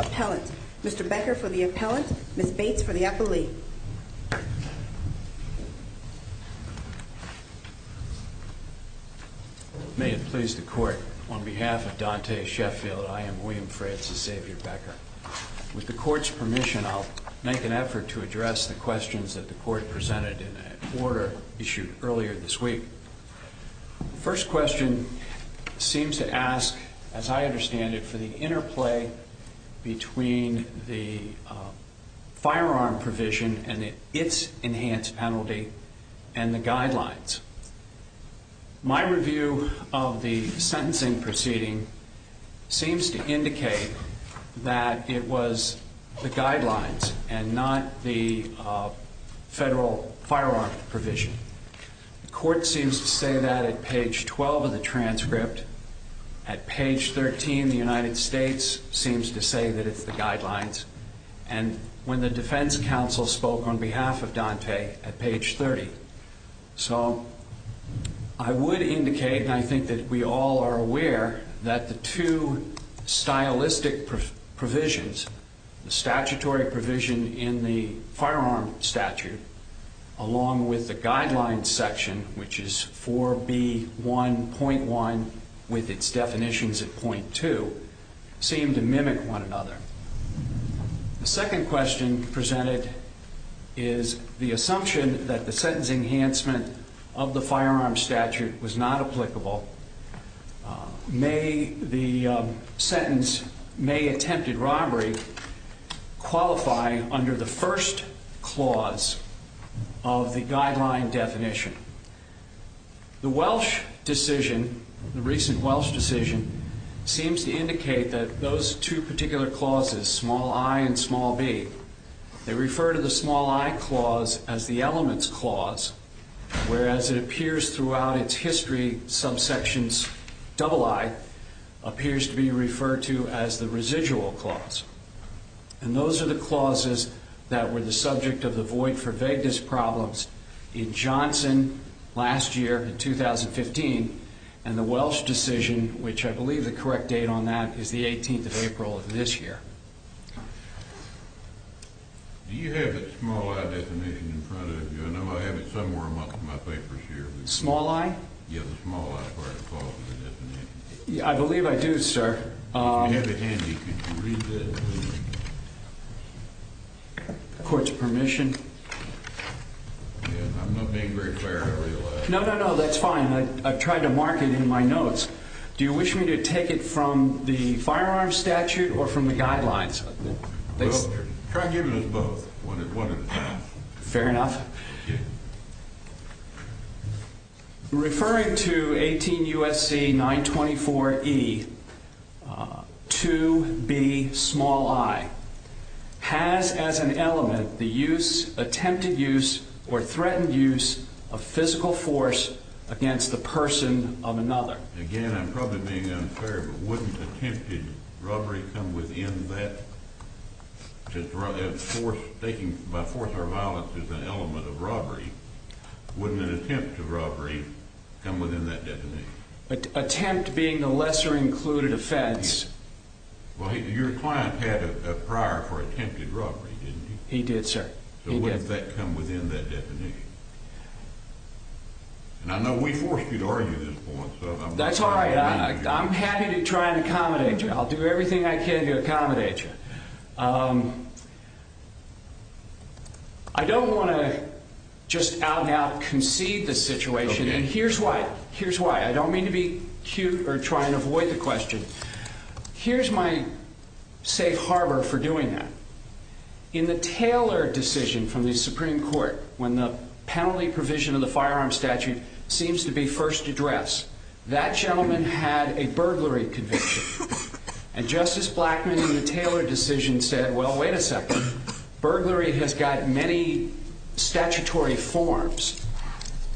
Appellant, Mr. Becker for the Appellant, Ms. Bates for the Appellee. May it please the Court, on behalf of Dante Sheffield, I am William Francis Xavier Becker. With the Court's permission, I'll make an effort to address the questions that the Court presented in an order issued earlier this week. The first question seems to ask, as I understand it, for the interplay between the firearm provision and its enhanced penalty and the guidelines. My review of the sentencing proceeding seems to indicate that it was the guidelines and not the federal firearm provision. The Court seems to say that at page 12 of the transcript. At page 13, the United States seems to say that it's the guidelines. And when the defense counsel spoke on behalf of Dante at page 30. So, I would indicate, and I think that we all are aware, that the two stylistic provisions, the statutory provision in the firearm statute, along with the guidelines section, which is 4B1.1 with its definitions at .2, seem to mimic one another. The second question presented is the assumption that the sentencing enhancement of the firearm statute was not applicable. The sentence, may attempted robbery, qualify under the first clause of the guideline definition. The Welsh decision, the recent Welsh decision, seems to indicate that those two particular clauses, small i and small b, they refer to the small i clause as the elements clause. Whereas it appears throughout its history, subsections double i appears to be referred to as the residual clause. And those are the clauses that were the subject of the void for vagueness problems in Johnson last year in 2015. And the Welsh decision, which I believe the correct date on that, is the 18th of April of this year. Do you have the small i definition in front of you? I know I have it somewhere amongst my papers here. Small i? Yeah, the small i is where it falls in the definition. I believe I do, sir. If you have it handy, could you read the court's permission? I'm not being very clear, I realize. No, no, no, that's fine. I've tried to mark it in my notes. Do you wish me to take it from the firearm statute or from the guidelines? Try giving us both, one at a time. Fair enough. Referring to 18 U.S.C. 924 E 2B small i, has as an element the use, attempted use, or threatened use of physical force against the person of another? Again, I'm probably being unfair, but wouldn't attempted robbery come within that? Taking by force or violence as an element of robbery, wouldn't an attempt at robbery come within that definition? An attempt being a lesser included offense? Well, your client had a prior for attempted robbery, didn't he? He did, sir. So wouldn't that come within that definition? And I know we forced you to argue at this point, so I'm not going to... That's all right. I'm happy to try and accommodate you. I'll do everything I can to accommodate you. I don't want to just out-and-out concede the situation, and here's why. I don't mean to be cute or try and avoid the question. Here's my safe harbor for doing that. In the Taylor decision from the Supreme Court, when the penalty provision of the firearm statute seems to be first addressed, that gentleman had a burglary conviction. And Justice Blackmun, in the Taylor decision, said, well, wait a second. Burglary has got many statutory forms,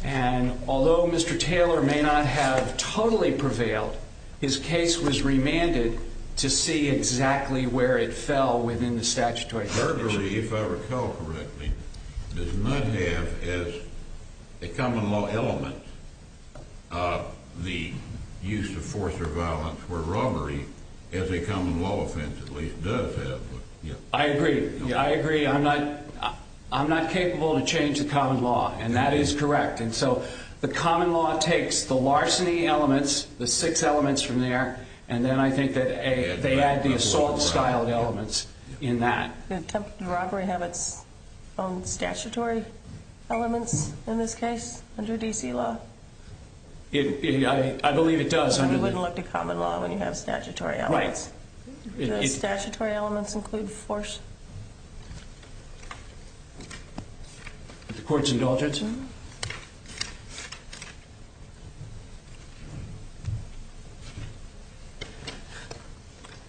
and although Mr. Taylor may not have totally prevailed, his case was remanded to see exactly where it fell within the statutory definition. Burglary, if I recall correctly, does not have as a common law element the use of force or violence, where robbery, as a common law offense at least, does have. I agree. I agree. I'm not capable to change the common law, and that is correct. And so the common law takes the larceny elements, the six elements from there, and then I think that they add the assault-styled elements in that. Did robbery have its own statutory elements in this case under D.C. law? I believe it does. You wouldn't look to common law when you have statutory elements. Right. Do the statutory elements include force? The court's indulgence, sir?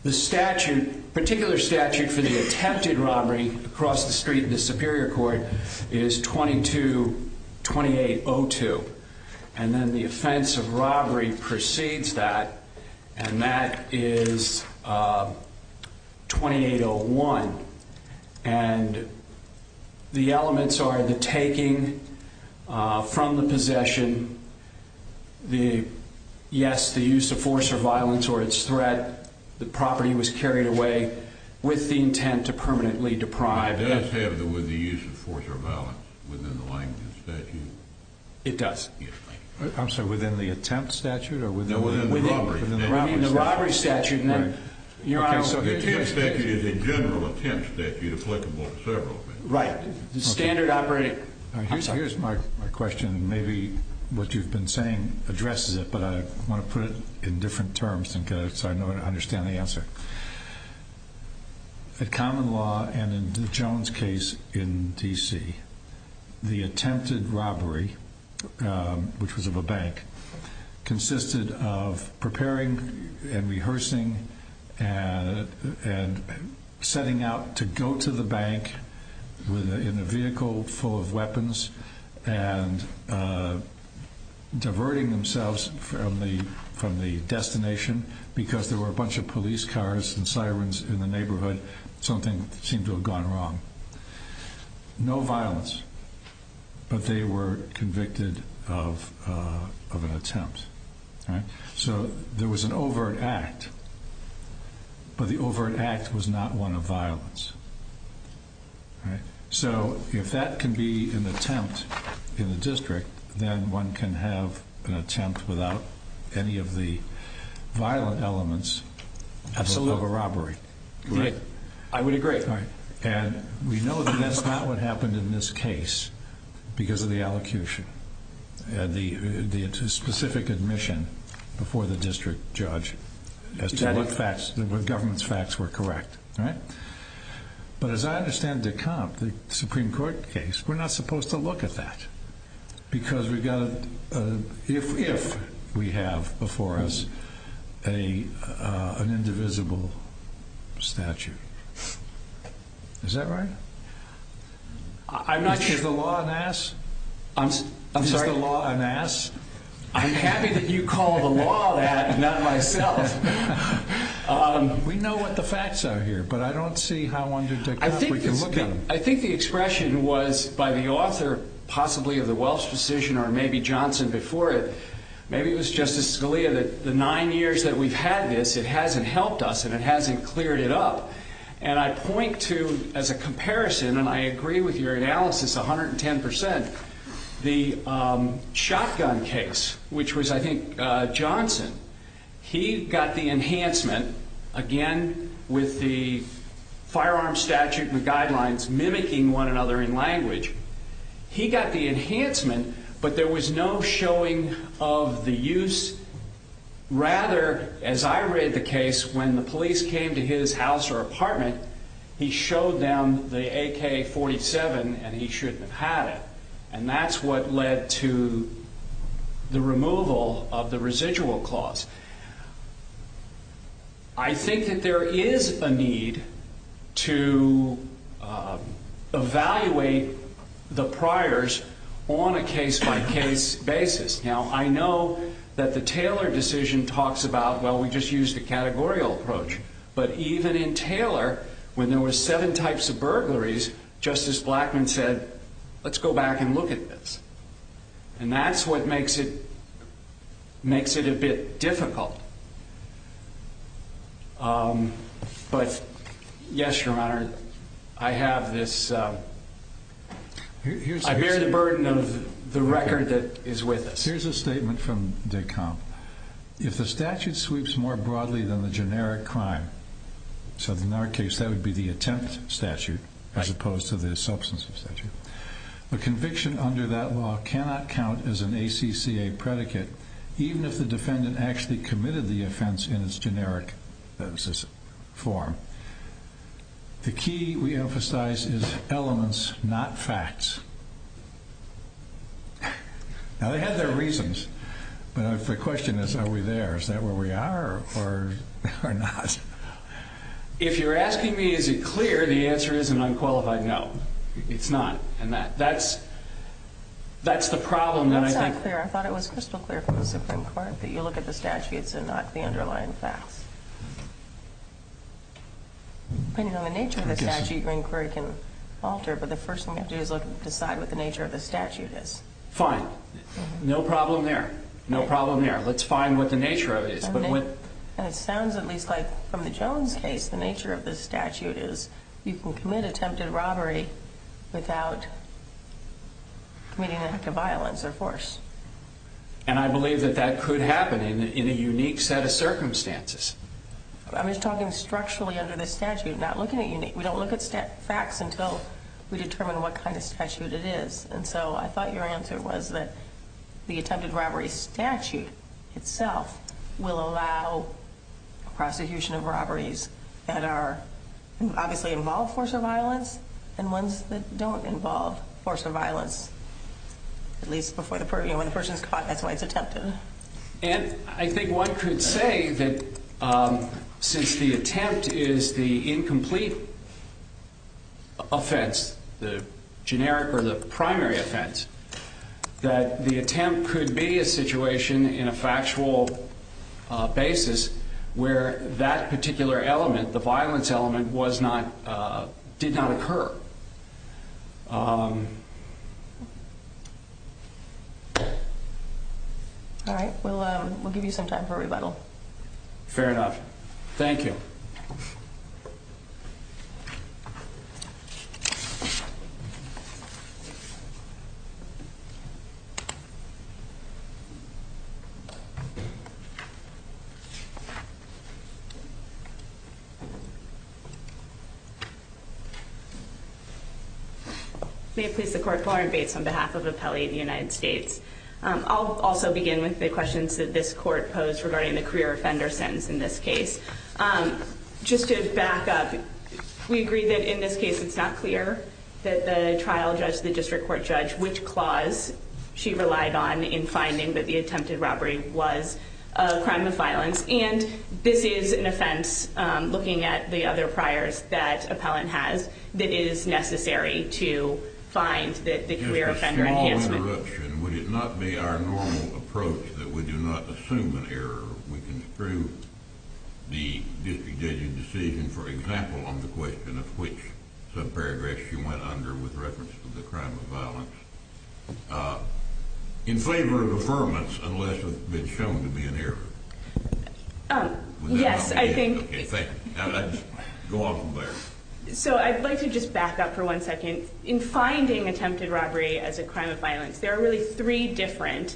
The statute, particular statute for the attempted robbery across the street in the Superior Court is 22-2802. And then the offense of robbery precedes that, and that is 2801. And the elements are the taking from the possession, yes, the use of force or violence or its threat, the property was carried away with the intent to permanently deprive. Does it have the use of force or violence within the language of the statute? It does. I'm sorry, within the attempt statute? No, within the robbery statute. The attempt statute is a general attempt statute applicable to several things. Right. The standard operating. Here's my question, and maybe what you've been saying addresses it, but I want to put it in different terms so I understand the answer. At common law and in the Jones case in D.C., the attempted robbery, which was of a bank, consisted of preparing and rehearsing and setting out to go to the bank in a vehicle full of weapons and diverting themselves from the destination because there were a bunch of police cars and sirens in the neighborhood. Something seemed to have gone wrong. No violence, but they were convicted of an attempt. So there was an overt act, but the overt act was not one of violence. So if that can be an attempt in the district, then one can have an attempt without any of the violent elements of a robbery. I would agree. And we know that that's not what happened in this case because of the allocution. The specific admission before the district judge as to what facts the government's facts were correct. But as I understand the Supreme Court case, we're not supposed to look at that because we've got to if we have before us an indivisible statute. Is that right? I'm not sure. Is the law an ass? I'm sorry? Is the law an ass? I'm happy that you call the law that, not myself. We know what the facts are here, but I don't see how under technology we can look at them. I think the expression was by the author possibly of the Welch decision or maybe Johnson before it. Maybe it was Justice Scalia that the nine years that we've had this, it hasn't helped us and it hasn't cleared it up. And I point to, as a comparison, and I agree with your analysis 110%, the shotgun case, which was, I think, Johnson. He got the enhancement, again, with the firearm statute and the guidelines mimicking one another in language. He got the enhancement, but there was no showing of the use. Rather, as I read the case, when the police came to his house or apartment, he showed them the AK-47 and he shouldn't have had it. And that's what led to the removal of the residual clause. I think that there is a need to evaluate the priors on a case-by-case basis. Now, I know that the Taylor decision talks about, well, we just used a categorical approach. But even in Taylor, when there were seven types of burglaries, Justice Blackmun said, let's go back and look at this. And that's what makes it a bit difficult. But, yes, Your Honor, I have this. I bear the burden of the record that is with us. Here's a statement from Dekamp. If the statute sweeps more broadly than the generic crime, so in our case, that would be the attempt statute as opposed to the substance of statute, the conviction under that law cannot count as an ACCA predicate, even if the defendant actually committed the offense in its generic form. The key, we emphasize, is elements, not facts. Now, they had their reasons. But the question is, are we there? Is that where we are or not? If you're asking me, is it clear, the answer is an unqualified no. It's not. And that's the problem. That's not clear. I thought it was crystal clear from the Supreme Court that you look at the statutes and not the underlying facts. Depending on the nature of the statute, your inquiry can alter. But the first thing you have to do is decide what the nature of the statute is. Fine. No problem there. No problem there. Let's find what the nature of it is. And it sounds at least like from the Jones case, the nature of the statute is you can commit attempted robbery without committing an act of violence or force. And I believe that that could happen in a unique set of circumstances. I'm just talking structurally under the statute, not looking at unique. We don't look at facts until we determine what kind of statute it is. And so I thought your answer was that the attempted robbery statute itself will allow prosecution of robberies that are obviously involved in force of violence and ones that don't involve force of violence, at least when the person is caught, that's why it's attempted. And I think one could say that since the attempt is the incomplete offense, the generic or the primary offense, that the attempt could be a situation in a factual basis where that particular element, the violence element, did not occur. All right. Well, we'll give you some time for rebuttal. Fair enough. Thank you. May it please the court. Lauren Bates on behalf of Appellate United States. I'll also begin with the questions that this court posed regarding the career offender sentence in this case. Just to back up, we agree that in this case it's not clear that the trial judge, the district court judge, which clause she relied on in finding that the attempted robbery was a crime of violence. And this is an offense, looking at the other priors that Appellant has, that is necessary to find the career offender enhancement. Would it not be our normal approach that we do not assume an error? We construe the district judge's decision, for example, on the question of which subparagraph she went under with reference to the crime of violence, in favor of affirmance unless it's shown to be an error. Yes, I think. Okay, thank you. Go on from there. So I'd like to just back up for one second. In finding attempted robbery as a crime of violence, there are really three different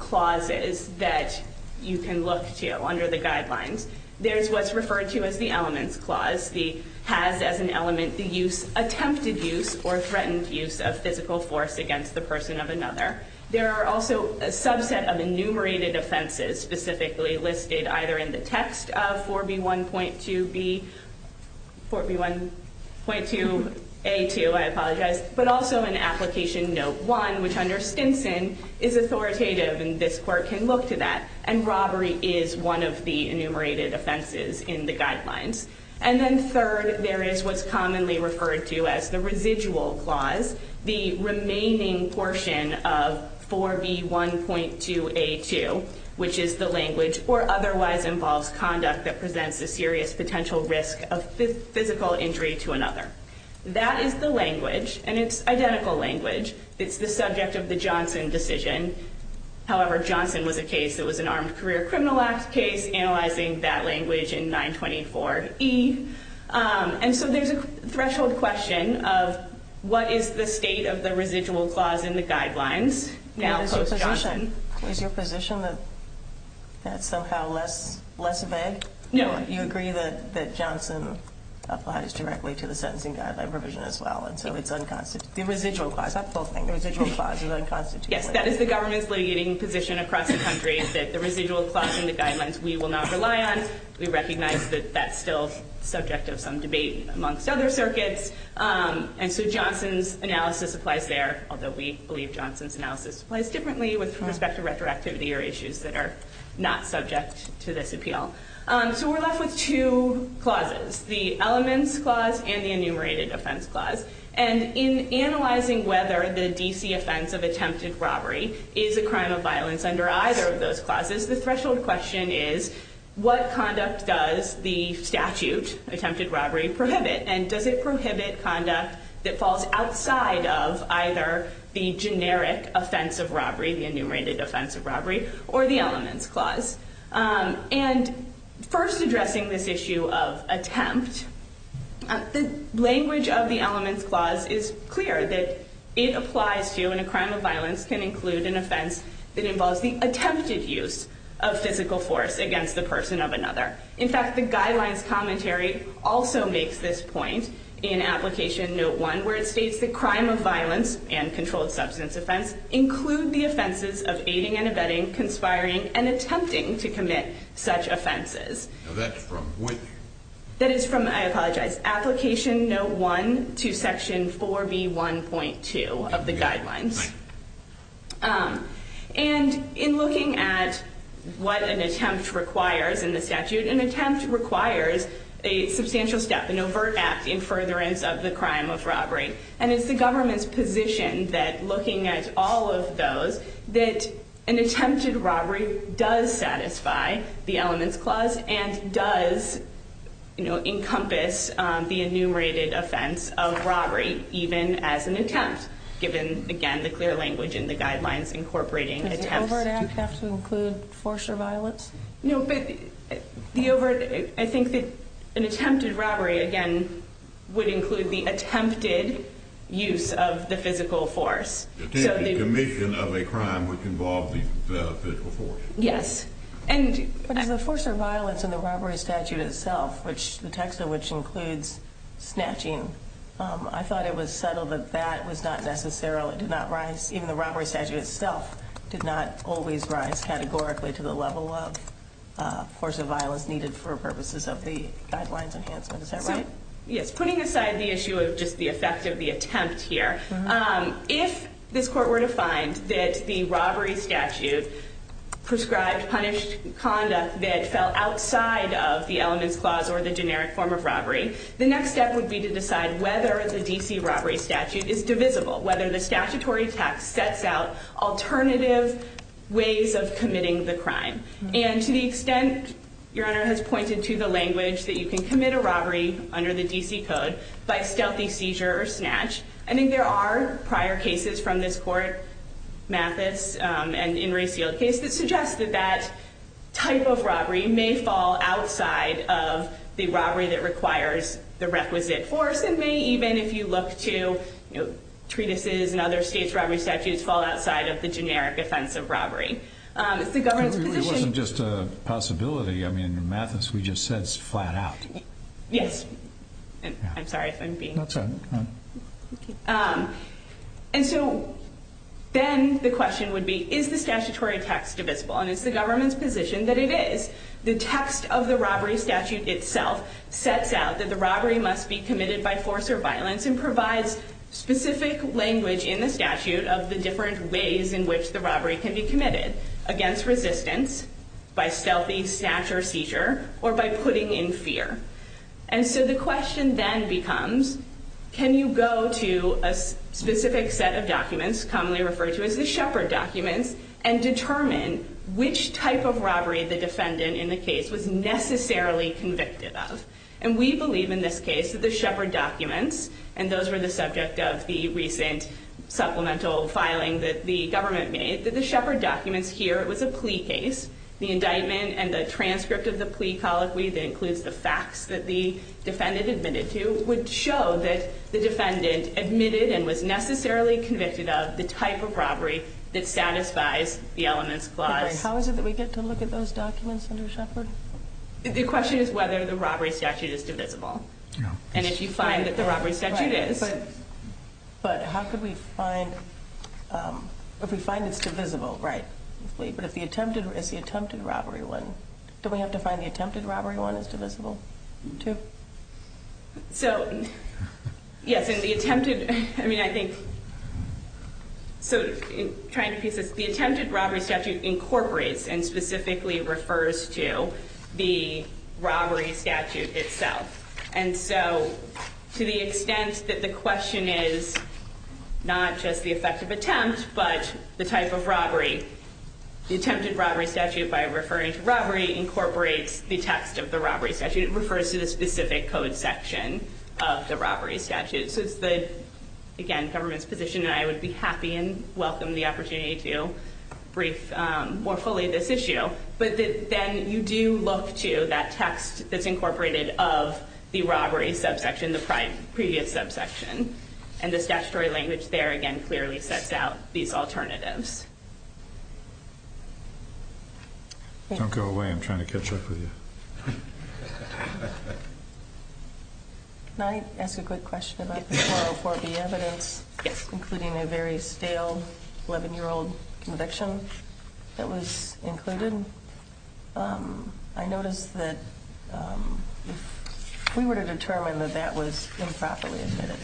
clauses that you can look to under the guidelines. There's what's referred to as the elements clause. The has as an element, the use, attempted use or threatened use of physical force against the person of another. There are also a subset of enumerated offenses specifically listed either in the text of 4B1.2B, 4B1.2A2. I apologize, but also in application note one, which under Stinson is authoritative and this court can look to that. And robbery is one of the enumerated offenses in the guidelines. And then third, there is what's commonly referred to as the residual clause, the remaining portion of 4B1.2A2, which is the language or otherwise involves conduct that presents a serious potential risk of physical injury to another. That is the language and it's identical language. It's the subject of the Johnson decision. However, Johnson was a case that was an armed career criminal act case analyzing that language in 924E. And so there's a threshold question of what is the state of the residual clause in the guidelines now post-Johnson. Is your position that that's somehow less vague? No. You agree that Johnson applies directly to the sentencing guideline provision as well, and so it's unconstitutional. The residual clause, that's the whole thing. The residual clause is unconstitutional. Yes, that is the government's litigating position across the country that the residual clause in the guidelines we will not rely on. We recognize that that's still subject of some debate amongst other circuits. And so Johnson's analysis applies there, although we believe Johnson's analysis applies differently with respect to retroactivity or issues that are not subject to this appeal. So we're left with two clauses, the elements clause and the enumerated offense clause. And in analyzing whether the D.C. offense of attempted robbery is a crime of violence under either of those clauses, the threshold question is what conduct does the statute, attempted robbery, prohibit? And does it prohibit conduct that falls outside of either the generic offense of robbery, the enumerated offense of robbery, or the elements clause? And first addressing this issue of attempt, the language of the elements clause is clear that it applies to, and a crime of violence can include an offense that involves the attempted use of physical force against the person of another. In fact, the guidelines commentary also makes this point in Application Note 1, where it states that crime of violence and controlled substance offense include the offenses of aiding and abetting, conspiring, and attempting to commit such offenses. Now, that's from which? That is from, I apologize, Application Note 1 to Section 4B1.2 of the guidelines. And in looking at what an attempt requires in the statute, an attempt requires a substantial step, an overt act in furtherance of the crime of robbery. And it's the government's position that looking at all of those, that an attempted robbery does satisfy the elements clause and does encompass the enumerated offense of robbery, even as an attempt, given, again, the clear language in the guidelines incorporating attempts. Does an overt act have to include force or violence? No, but the overt, I think that an attempted robbery, again, would include the attempted use of the physical force. Attempted commission of a crime which involved the physical force. Yes. But is the force or violence in the robbery statute itself, which the text of which includes snatching, I thought it was subtle that that was not necessary. It did not rise. Even the robbery statute itself did not always rise categorically to the level of force or violence needed for purposes of the guidelines enhancement. Is that right? Yes. Putting aside the issue of just the effect of the attempt here, if this court were to find that the robbery statute prescribed punished conduct that fell outside of the elements clause or the generic form of robbery, the next step would be to decide whether the D.C. robbery statute is divisible, whether the statutory text sets out alternative ways of committing the crime. And to the extent Your Honor has pointed to the language that you can commit a robbery under the D.C. code by stealthy seizure or snatch, I think there are prior cases from this court, Mathis and in Ray Seale's case, that suggest that that type of robbery may fall outside of the robbery that requires the requisite force and may even, if you look to treatises and other states' robbery statutes, fall outside of the generic offense of robbery. It's the government's position. It wasn't just a possibility. I mean, Mathis, we just said it's flat out. Yes. I'm sorry if I'm being… And so then the question would be, is the statutory text divisible? And it's the government's position that it is. The text of the robbery statute itself sets out that the robbery must be committed by force or violence and provides specific language in the statute of the different ways in which the robbery can be committed, against resistance, by stealthy snatch or seizure, or by putting in fear. And so the question then becomes, can you go to a specific set of documents, commonly referred to as the Shepard documents, and determine which type of robbery the defendant in the case was necessarily convicted of? And we believe in this case that the Shepard documents, and those were the subject of the recent supplemental filing that the government made, that the Shepard documents here, it was a plea case. The indictment and the transcript of the plea colloquy that includes the facts that the defendant admitted to would show that the defendant admitted and was necessarily convicted of the type of robbery that satisfies the elements clause. How is it that we get to look at those documents under Shepard? The question is whether the robbery statute is divisible. And if you find that the robbery statute is. But how could we find, if we find it's divisible, right? But if the attempted, is the attempted robbery one, do we have to find the attempted robbery one is divisible too? So, yes, in the attempted, I mean I think, so trying to piece this, the attempted robbery statute incorporates and specifically refers to the robbery statute itself. And so, to the extent that the question is not just the effective attempt, but the type of robbery. The attempted robbery statute, by referring to robbery, incorporates the text of the robbery statute. It refers to the specific code section of the robbery statute. So it's the, again, government's position, and I would be happy and welcome the opportunity to brief more fully this issue. But then you do look to that text that's incorporated of the robbery subsection, the previous subsection. And the statutory language there, again, clearly sets out these alternatives. Don't go away, I'm trying to catch up with you. Can I ask a quick question about the 404B evidence? Yes. Including a very stale 11-year-old conviction that was included. I noticed that if we were to determine that that was improperly admitted,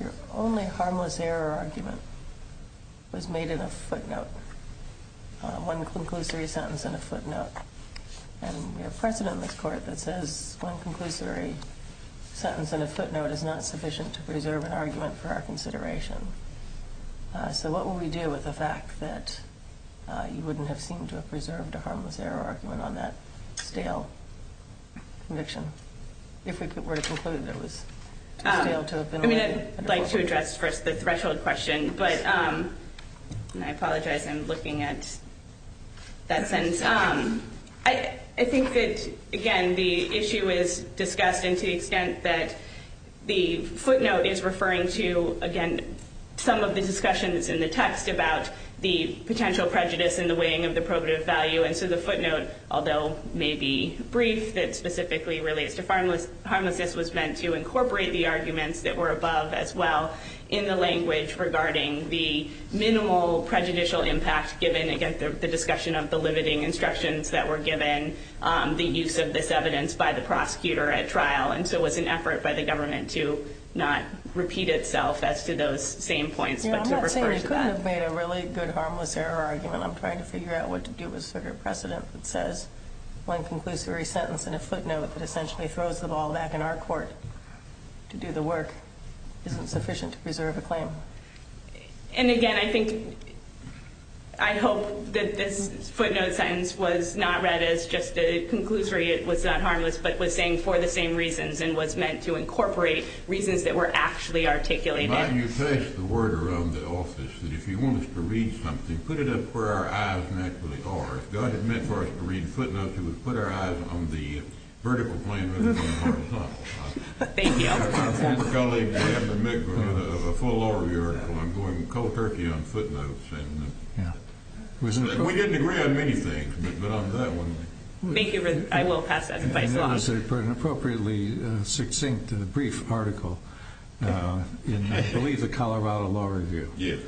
your only harmless error argument was made in a footnote, one conclusory sentence in a footnote. And we have precedent in this court that says one conclusory sentence in a footnote is not sufficient to preserve an argument for our consideration. So what will we do with the fact that you wouldn't have seemed to have preserved a harmless error argument on that stale conviction? If we were to conclude that it was too stale to have been- I'd like to address first the threshold question, but I apologize, I'm looking at that sentence. I think that, again, the issue is discussed to the extent that the footnote is referring to, again, some of the discussions in the text about the potential prejudice in the weighing of the probative value. And so the footnote, although maybe brief, that specifically relates to harmlessness, was meant to incorporate the arguments that were above as well in the language regarding the minimal prejudicial impact given, again, the discussion of the limiting instructions that were given, the use of this evidence by the prosecutor at trial. And so it was an effort by the government to not repeat itself as to those same points, but to refer to that. I'm not saying we couldn't have made a really good harmless error argument. I'm trying to figure out what to do with sort of precedent that says one conclusory sentence in a footnote that essentially throws the ball back in our court to do the work isn't sufficient to preserve a claim. And, again, I think- I hope that this footnote sentence was not read as just a conclusory, it was not harmless, but was saying for the same reasons and was meant to incorporate reasons that were actually articulated. You placed the word around the office that if you want us to read something, put it up where our eyes naturally are. If God had meant for us to read footnotes, He would put our eyes on the vertical plane rather than the horizontal. Thank you. I have a colleague that happened to make a full law review article on going cold turkey on footnotes. We didn't agree on many things, but on that one- Thank you. I will pass that advice along. And it was an appropriately succinct and brief article in, I believe, the Colorado Law Review. Yes.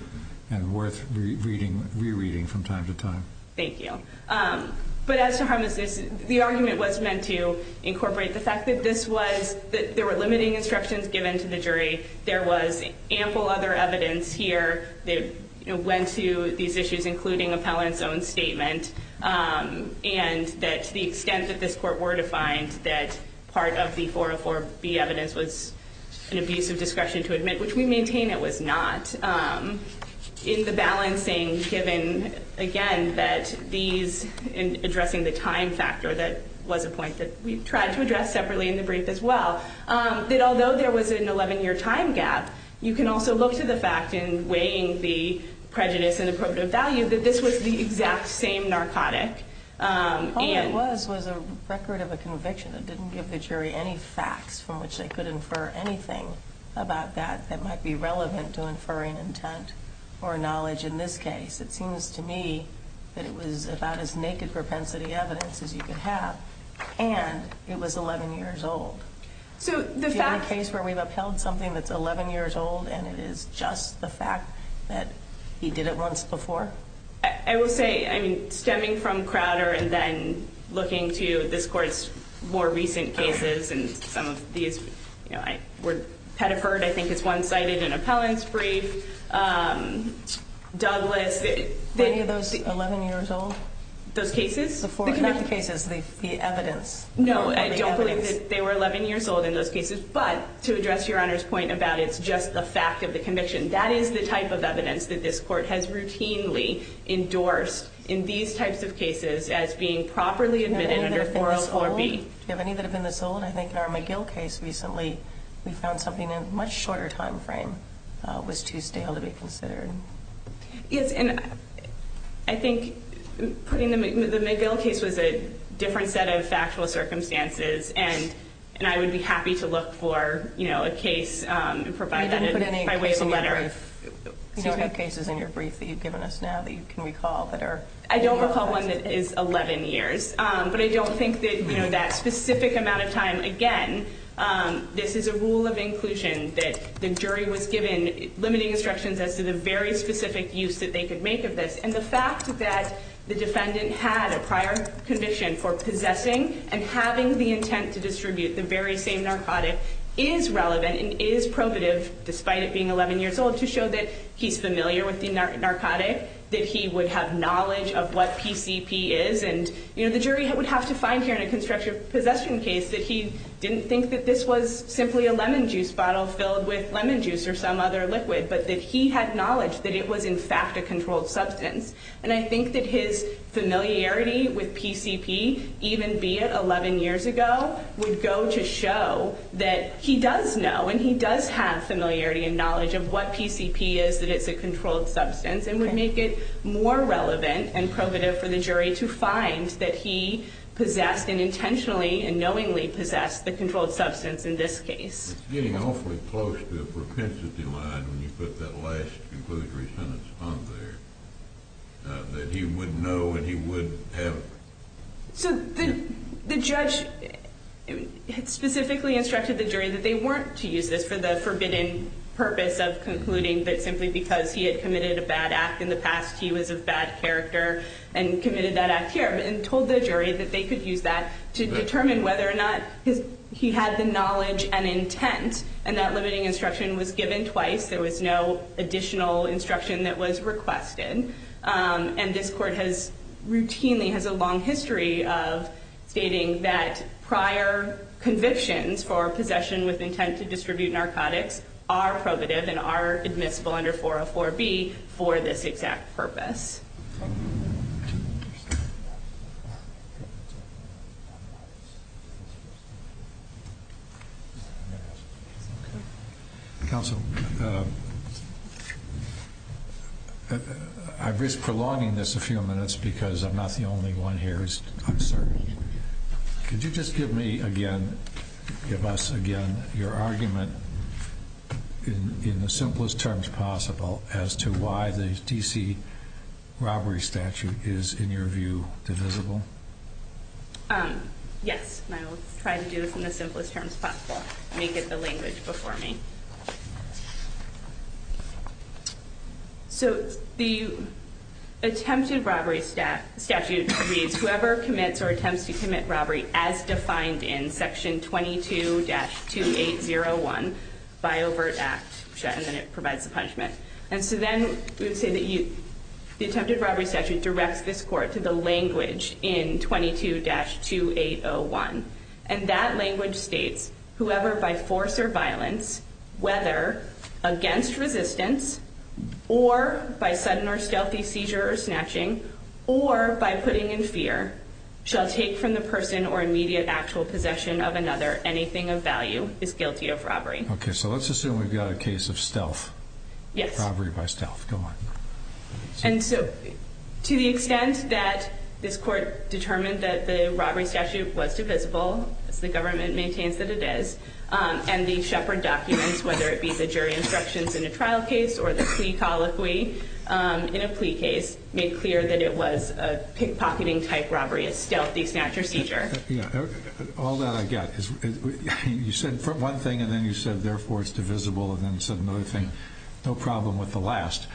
And worth rereading from time to time. Thank you. But as to harmlessness, the argument was meant to incorporate the fact that this was- that there were limiting instructions given to the jury. There was ample other evidence here that went to these issues, including appellant's own statement. And that to the extent that this court were defined, that part of the 404B evidence was an abuse of discretion to admit, which we maintain it was not. In the balancing given, again, that these- in addressing the time factor, that was a point that we tried to address separately in the brief as well, that although there was an 11-year time gap, you can also look to the fact in weighing the prejudice and appropriate value that this was the exact same narcotic. All it was was a record of a conviction that didn't give the jury any facts from which they could infer anything about that that might be relevant to inferring intent or knowledge in this case. It seems to me that it was about as naked propensity evidence as you could have, and it was 11 years old. So the fact- Is there any case where we've upheld something that's 11 years old and it is just the fact that he did it once before? I will say, I mean, stemming from Crowder and then looking to this court's more recent cases and some of these, you know, I would have heard, I think it's one-sided in Appellant's brief, Douglas- Were any of those 11 years old? Those cases? Not the cases, the evidence. No, I don't believe that they were 11 years old in those cases, but to address Your Honor's point about it's just the fact of the conviction, that is the type of evidence that this court has routinely endorsed in these types of cases as being properly admitted under 404B. Do you have any that have been this old? I think in our McGill case recently we found something in a much shorter time frame was too stale to be considered. Yes, and I think putting the- the McGill case was a different set of factual circumstances, and I would be happy to look for, you know, a case and provide that by way of a letter. I didn't put any cases in your brief. You don't have cases in your brief that you've given us now that you can recall that are- I don't recall one that is 11 years, but I don't think that, you know, that specific amount of time, again, this is a rule of inclusion that the jury was given limiting instructions as to the very specific use that they could make of this, and the fact that the defendant had a prior conviction for possessing and having the intent to distribute the very same narcotic is relevant and is probative despite it being 11 years old to show that he's familiar with the narcotic, that he would have knowledge of what PCP is, and, you know, the jury would have to find here in a constructive possession case that he didn't think that this was simply a lemon juice bottle filled with lemon juice or some other liquid, but that he had knowledge that it was in fact a controlled substance. And I think that his familiarity with PCP, even be it 11 years ago, would go to show that he does know and he does have familiarity and knowledge of what PCP is, that it's a controlled substance and would make it more relevant and probative for the jury to find that he possessed and intentionally and knowingly possessed the controlled substance in this case. It's getting awfully close to a propensity line when you put that last conclusory sentence on there, that he would know and he would have. So the judge specifically instructed the jury that they weren't to use this for the forbidden purpose of concluding but simply because he had committed a bad act in the past. He was of bad character and committed that act here, and told the jury that they could use that to determine whether or not he had the knowledge and intent. And that limiting instruction was given twice. There was no additional instruction that was requested. And this court routinely has a long history of stating that prior convictions for possession with intent to distribute narcotics are probative and are admissible under 404B for this exact purpose. Counsel, I've risked prolonging this a few minutes because I'm not the only one here. Could you just give me again, give us again, your argument in the simplest terms possible as to why the D.C. robbery statute is, in your view, divisible? Yes, and I will try to do this in the simplest terms possible. Let me get the language before me. So the attempted robbery statute reads, whoever commits or attempts to commit robbery as defined in section 22-2801 by overt act, and then it provides the punishment. And so then we would say that the attempted robbery statute directs this court to the language in 22-2801. And that language states, whoever by force or violence, whether against resistance, or by sudden or stealthy seizure or snatching, or by putting in fear, shall take from the person or immediate actual possession of another anything of value is guilty of robbery. Okay, so let's assume we've got a case of stealth. Yes. Robbery by stealth, go on. And so to the extent that this court determined that the robbery statute was divisible, as the government maintains that it is, and the Shepard documents, whether it be the jury instructions in a trial case or the plea colloquy in a plea case, made clear that it was a pickpocketing-type robbery, a stealthy snatch or seizure. All that I get is you said one thing, and then you said, therefore, it's divisible, and then you said another thing, no problem with the last.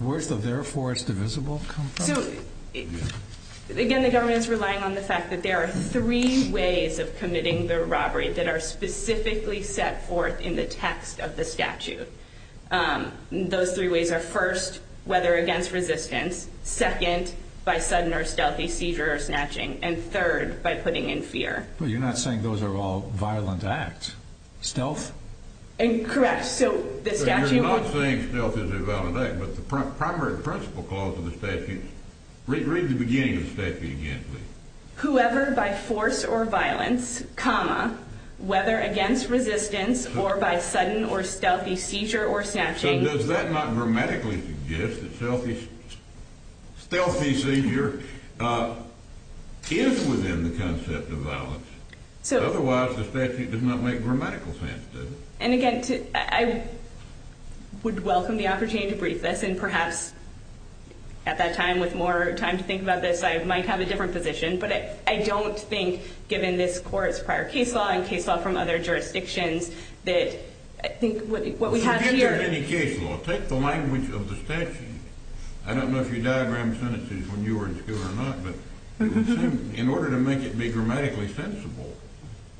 Where does the therefore it's divisible come from? Again, the government is relying on the fact that there are three ways of committing the robbery that are specifically set forth in the text of the statute. Those three ways are first, whether against resistance, second, by sudden or stealthy seizure or snatching, and third, by putting in fear. But you're not saying those are all violent acts. Stealth? Correct. So you're not saying stealth is a violent act, but the primary principle clause of the statute, read the beginning of the statute again, please. Whoever by force or violence, comma, whether against resistance or by sudden or stealthy seizure or snatching. So does that not grammatically suggest that stealthy seizure is within the concept of violence? Otherwise, the statute does not make grammatical sense, does it? And again, I would welcome the opportunity to brief this, and perhaps at that time with more time to think about this, I might have a different position. But I don't think, given this court's prior case law and case law from other jurisdictions, that I think what we have here – Take the language of the statute. I don't know if you diagram sentences when you were in school or not, but in order to make it be grammatically sensible,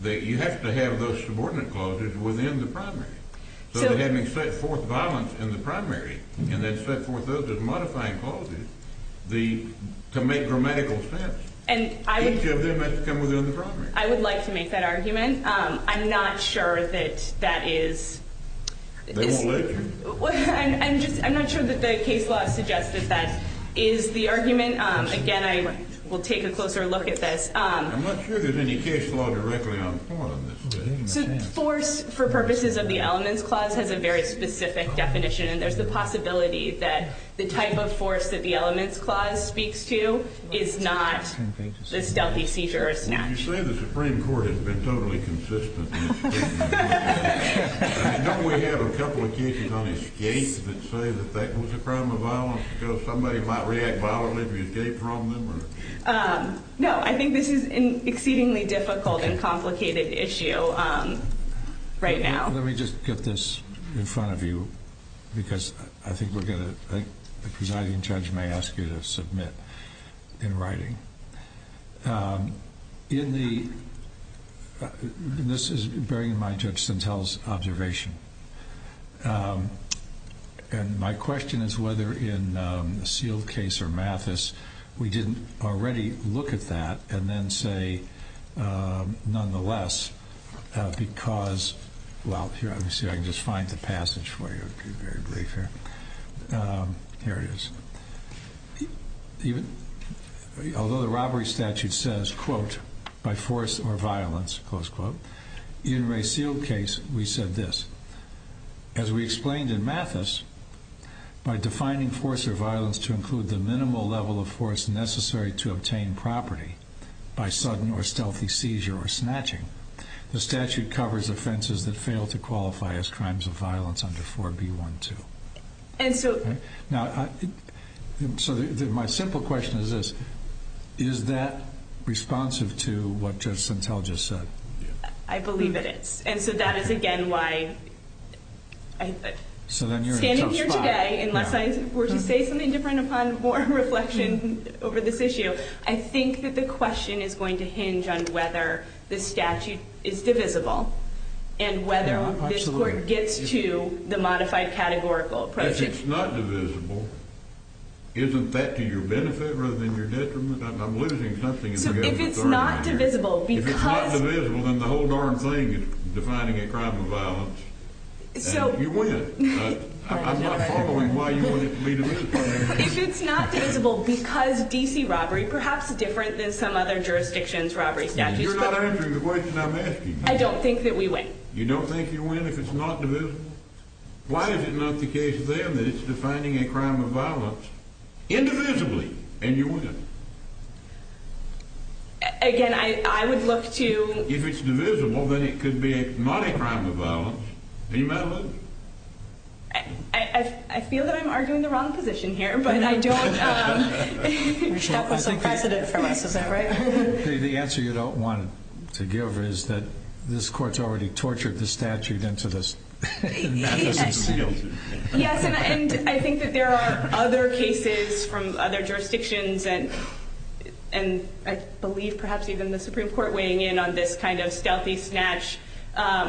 you have to have those subordinate clauses within the primary. So having set forth violence in the primary, and then set forth those as modifying clauses to make grammatical sense, each of them has to come within the primary. I would like to make that argument. I'm not sure that that is – They won't let you. I'm not sure that the case law suggests that that is the argument. Again, I will take a closer look at this. I'm not sure there's any case law directly on the part of this. So force for purposes of the elements clause has a very specific definition, and there's the possibility that the type of force that the elements clause speaks to is not the stealthy seizure or snatch. You say the Supreme Court has been totally consistent. Don't we have a couple of cases on escape that say that that was a crime of violence because somebody might react violently if you escape from them? No. I think this is an exceedingly difficult and complicated issue right now. Let me just get this in front of you because I think we're going to – the presiding judge may ask you to submit in writing. In the – and this is bearing in mind Judge Sintel's observation. And my question is whether in the Seale case or Mathis we didn't already look at that and then say, nonetheless, because – well, here, let me see if I can just find the passage for you. It would be very brief here. Here it is. Although the robbery statute says, quote, by force or violence, close quote, in Ray Seale's case we said this. As we explained in Mathis, by defining force or violence to include the minimal level of force necessary to obtain property by sudden or stealthy seizure or snatching, the statute covers offenses that fail to qualify as crimes of violence under 4B12. And so – Now, so my simple question is this. Is that responsive to what Judge Sintel just said? I believe it is. And so that is, again, why I – So then you're in a tough spot. Standing here today, unless I were to say something different upon more reflection over this issue, I think that the question is going to hinge on whether the statute is divisible and whether this court gets to the modified categorical approach. If it's not divisible, isn't that to your benefit rather than your detriment? I'm losing something here. So if it's not divisible because – So – You win. I'm not following why you want it to be divisible. If it's not divisible because D.C. robbery, perhaps different than some other jurisdictions' robbery statutes, but – You're not answering the question I'm asking. I don't think that we win. You don't think you win if it's not divisible? Why is it not the case then that it's defining a crime of violence indivisibly and you win? Again, I would look to – If it's divisible, then it could be not a crime of violence. Are you mad at me? I feel that I'm arguing the wrong position here, but I don't – We're stuck with some precedent from us. Is that right? The answer you don't want to give is that this court's already tortured the statute into this. Yes, and I think that there are other cases from other jurisdictions and I believe perhaps even the Supreme Court weighing in on this kind of stealthy snatch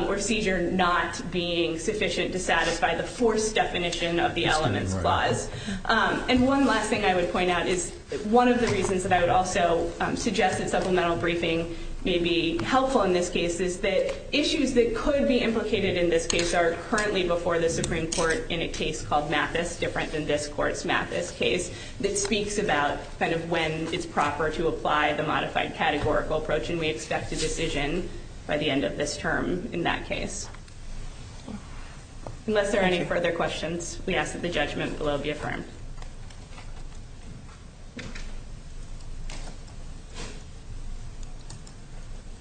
or seizure not being sufficient to satisfy the force definition of the elements clause. And one last thing I would point out is one of the reasons that I would also suggest that supplemental briefing may be helpful in this case is that issues that could be implicated in this case are currently before the Supreme Court in a case called Mathis, different than this court's Mathis case, that speaks about when it's proper to apply the modified categorical approach and we expect a decision by the end of this term in that case. Unless there are any further questions, we ask that the judgment below be affirmed.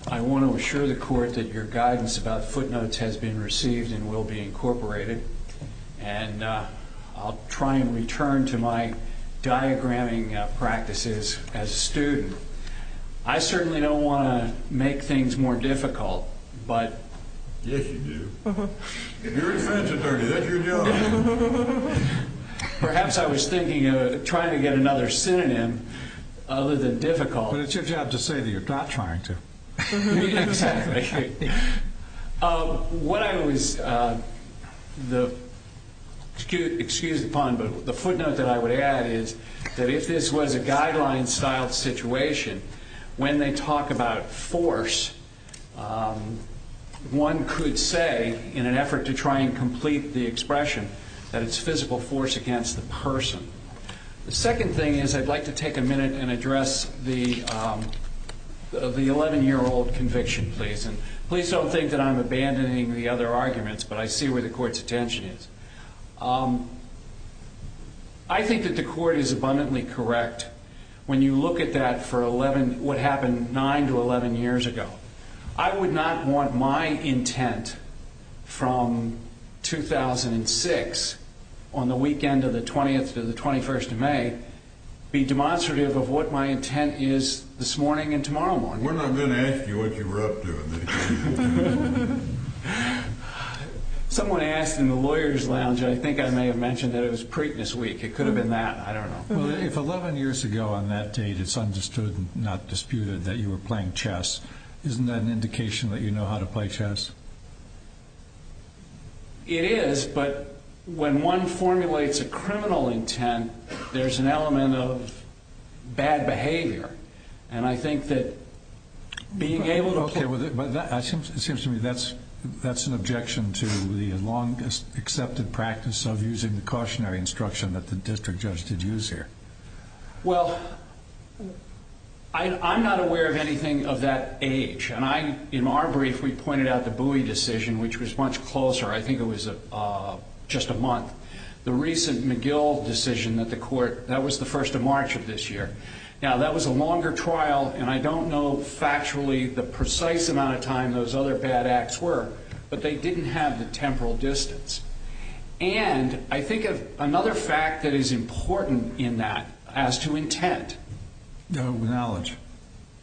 I want to assure the court that your guidance about footnotes has been received and will be incorporated and I'll try and return to my diagramming practices as a student. I certainly don't want to make things more difficult, but... Yes, you do. If you're a defense attorney, that's your job. Perhaps I was thinking of trying to get another synonym other than difficult. But it's your job to say that you're not trying to. Exactly. What I was... Excuse the pun, but the footnote that I would add is that if this was a guideline-style situation, when they talk about force, one could say, in an effort to try and complete the expression, that it's physical force against the person. The second thing is I'd like to take a minute and address the 11-year-old conviction, please. Please don't think that I'm abandoning the other arguments, but I see where the court's attention is. I think that the court is abundantly correct when you look at that for what happened 9 to 11 years ago. I would not want my intent from 2006, on the weekend of the 20th to the 21st of May, be demonstrative of what my intent is this morning and tomorrow morning. We're not going to ask you what you were up to. Someone asked in the lawyer's lounge, and I think I may have mentioned that it was Preakness Week. It could have been that. I don't know. Well, if 11 years ago on that date it's understood and not disputed that you were playing chess, isn't that an indication that you know how to play chess? It is, but when one formulates a criminal intent, there's an element of bad behavior. And I think that being able to play chess... Okay, but it seems to me that's an objection to the long-accepted practice of using the cautionary instruction that the district judge did use here. Well, I'm not aware of anything of that age. And in our brief, we pointed out the Bowie decision, which was much closer. I think it was just a month. The recent McGill decision at the court, that was the first of March of this year. Now, that was a longer trial, and I don't know factually the precise amount of time those other bad acts were, but they didn't have the temporal distance. And I think of another fact that is important in that as to intent. Knowledge.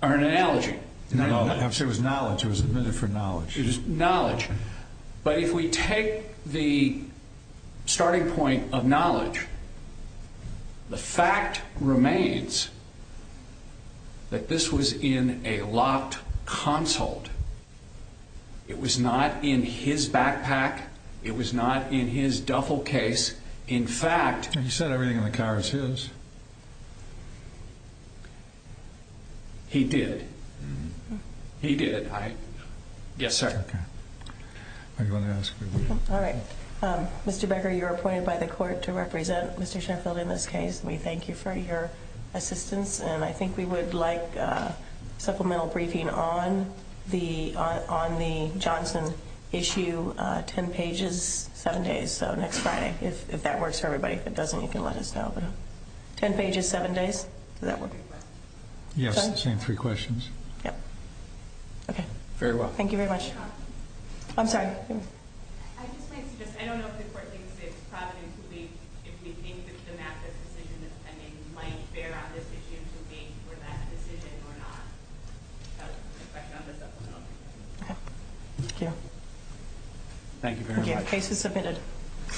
Or an analogy. No, no, I have to say it was knowledge. It was admitted for knowledge. It was knowledge. But if we take the starting point of knowledge, the fact remains that this was in a locked consult. It was not in his backpack. It was not in his duffel case. In fact... He said everything in the car was his. He did. He did. Yes, sir. Okay. Are you going to ask? All right. Mr. Becker, you're appointed by the court to represent Mr. Sheffield in this case. We thank you for your assistance. And I think we would like supplemental briefing on the Johnson issue. Ten pages, seven days. So next Friday. If that works for everybody. If it doesn't, you can let us know. Ten pages, seven days. Does that work? Yes, the same three questions. Yep. Okay. Very well. Thank you very much. I'm sorry. I just want to suggest... I don't know if the court thinks it's provident that we... If we think that the math of the decision that's pending might bear on this issue to wait for that decision or not. I have a question on the supplemental briefing. Okay. Thank you. Thank you very much. The case is submitted.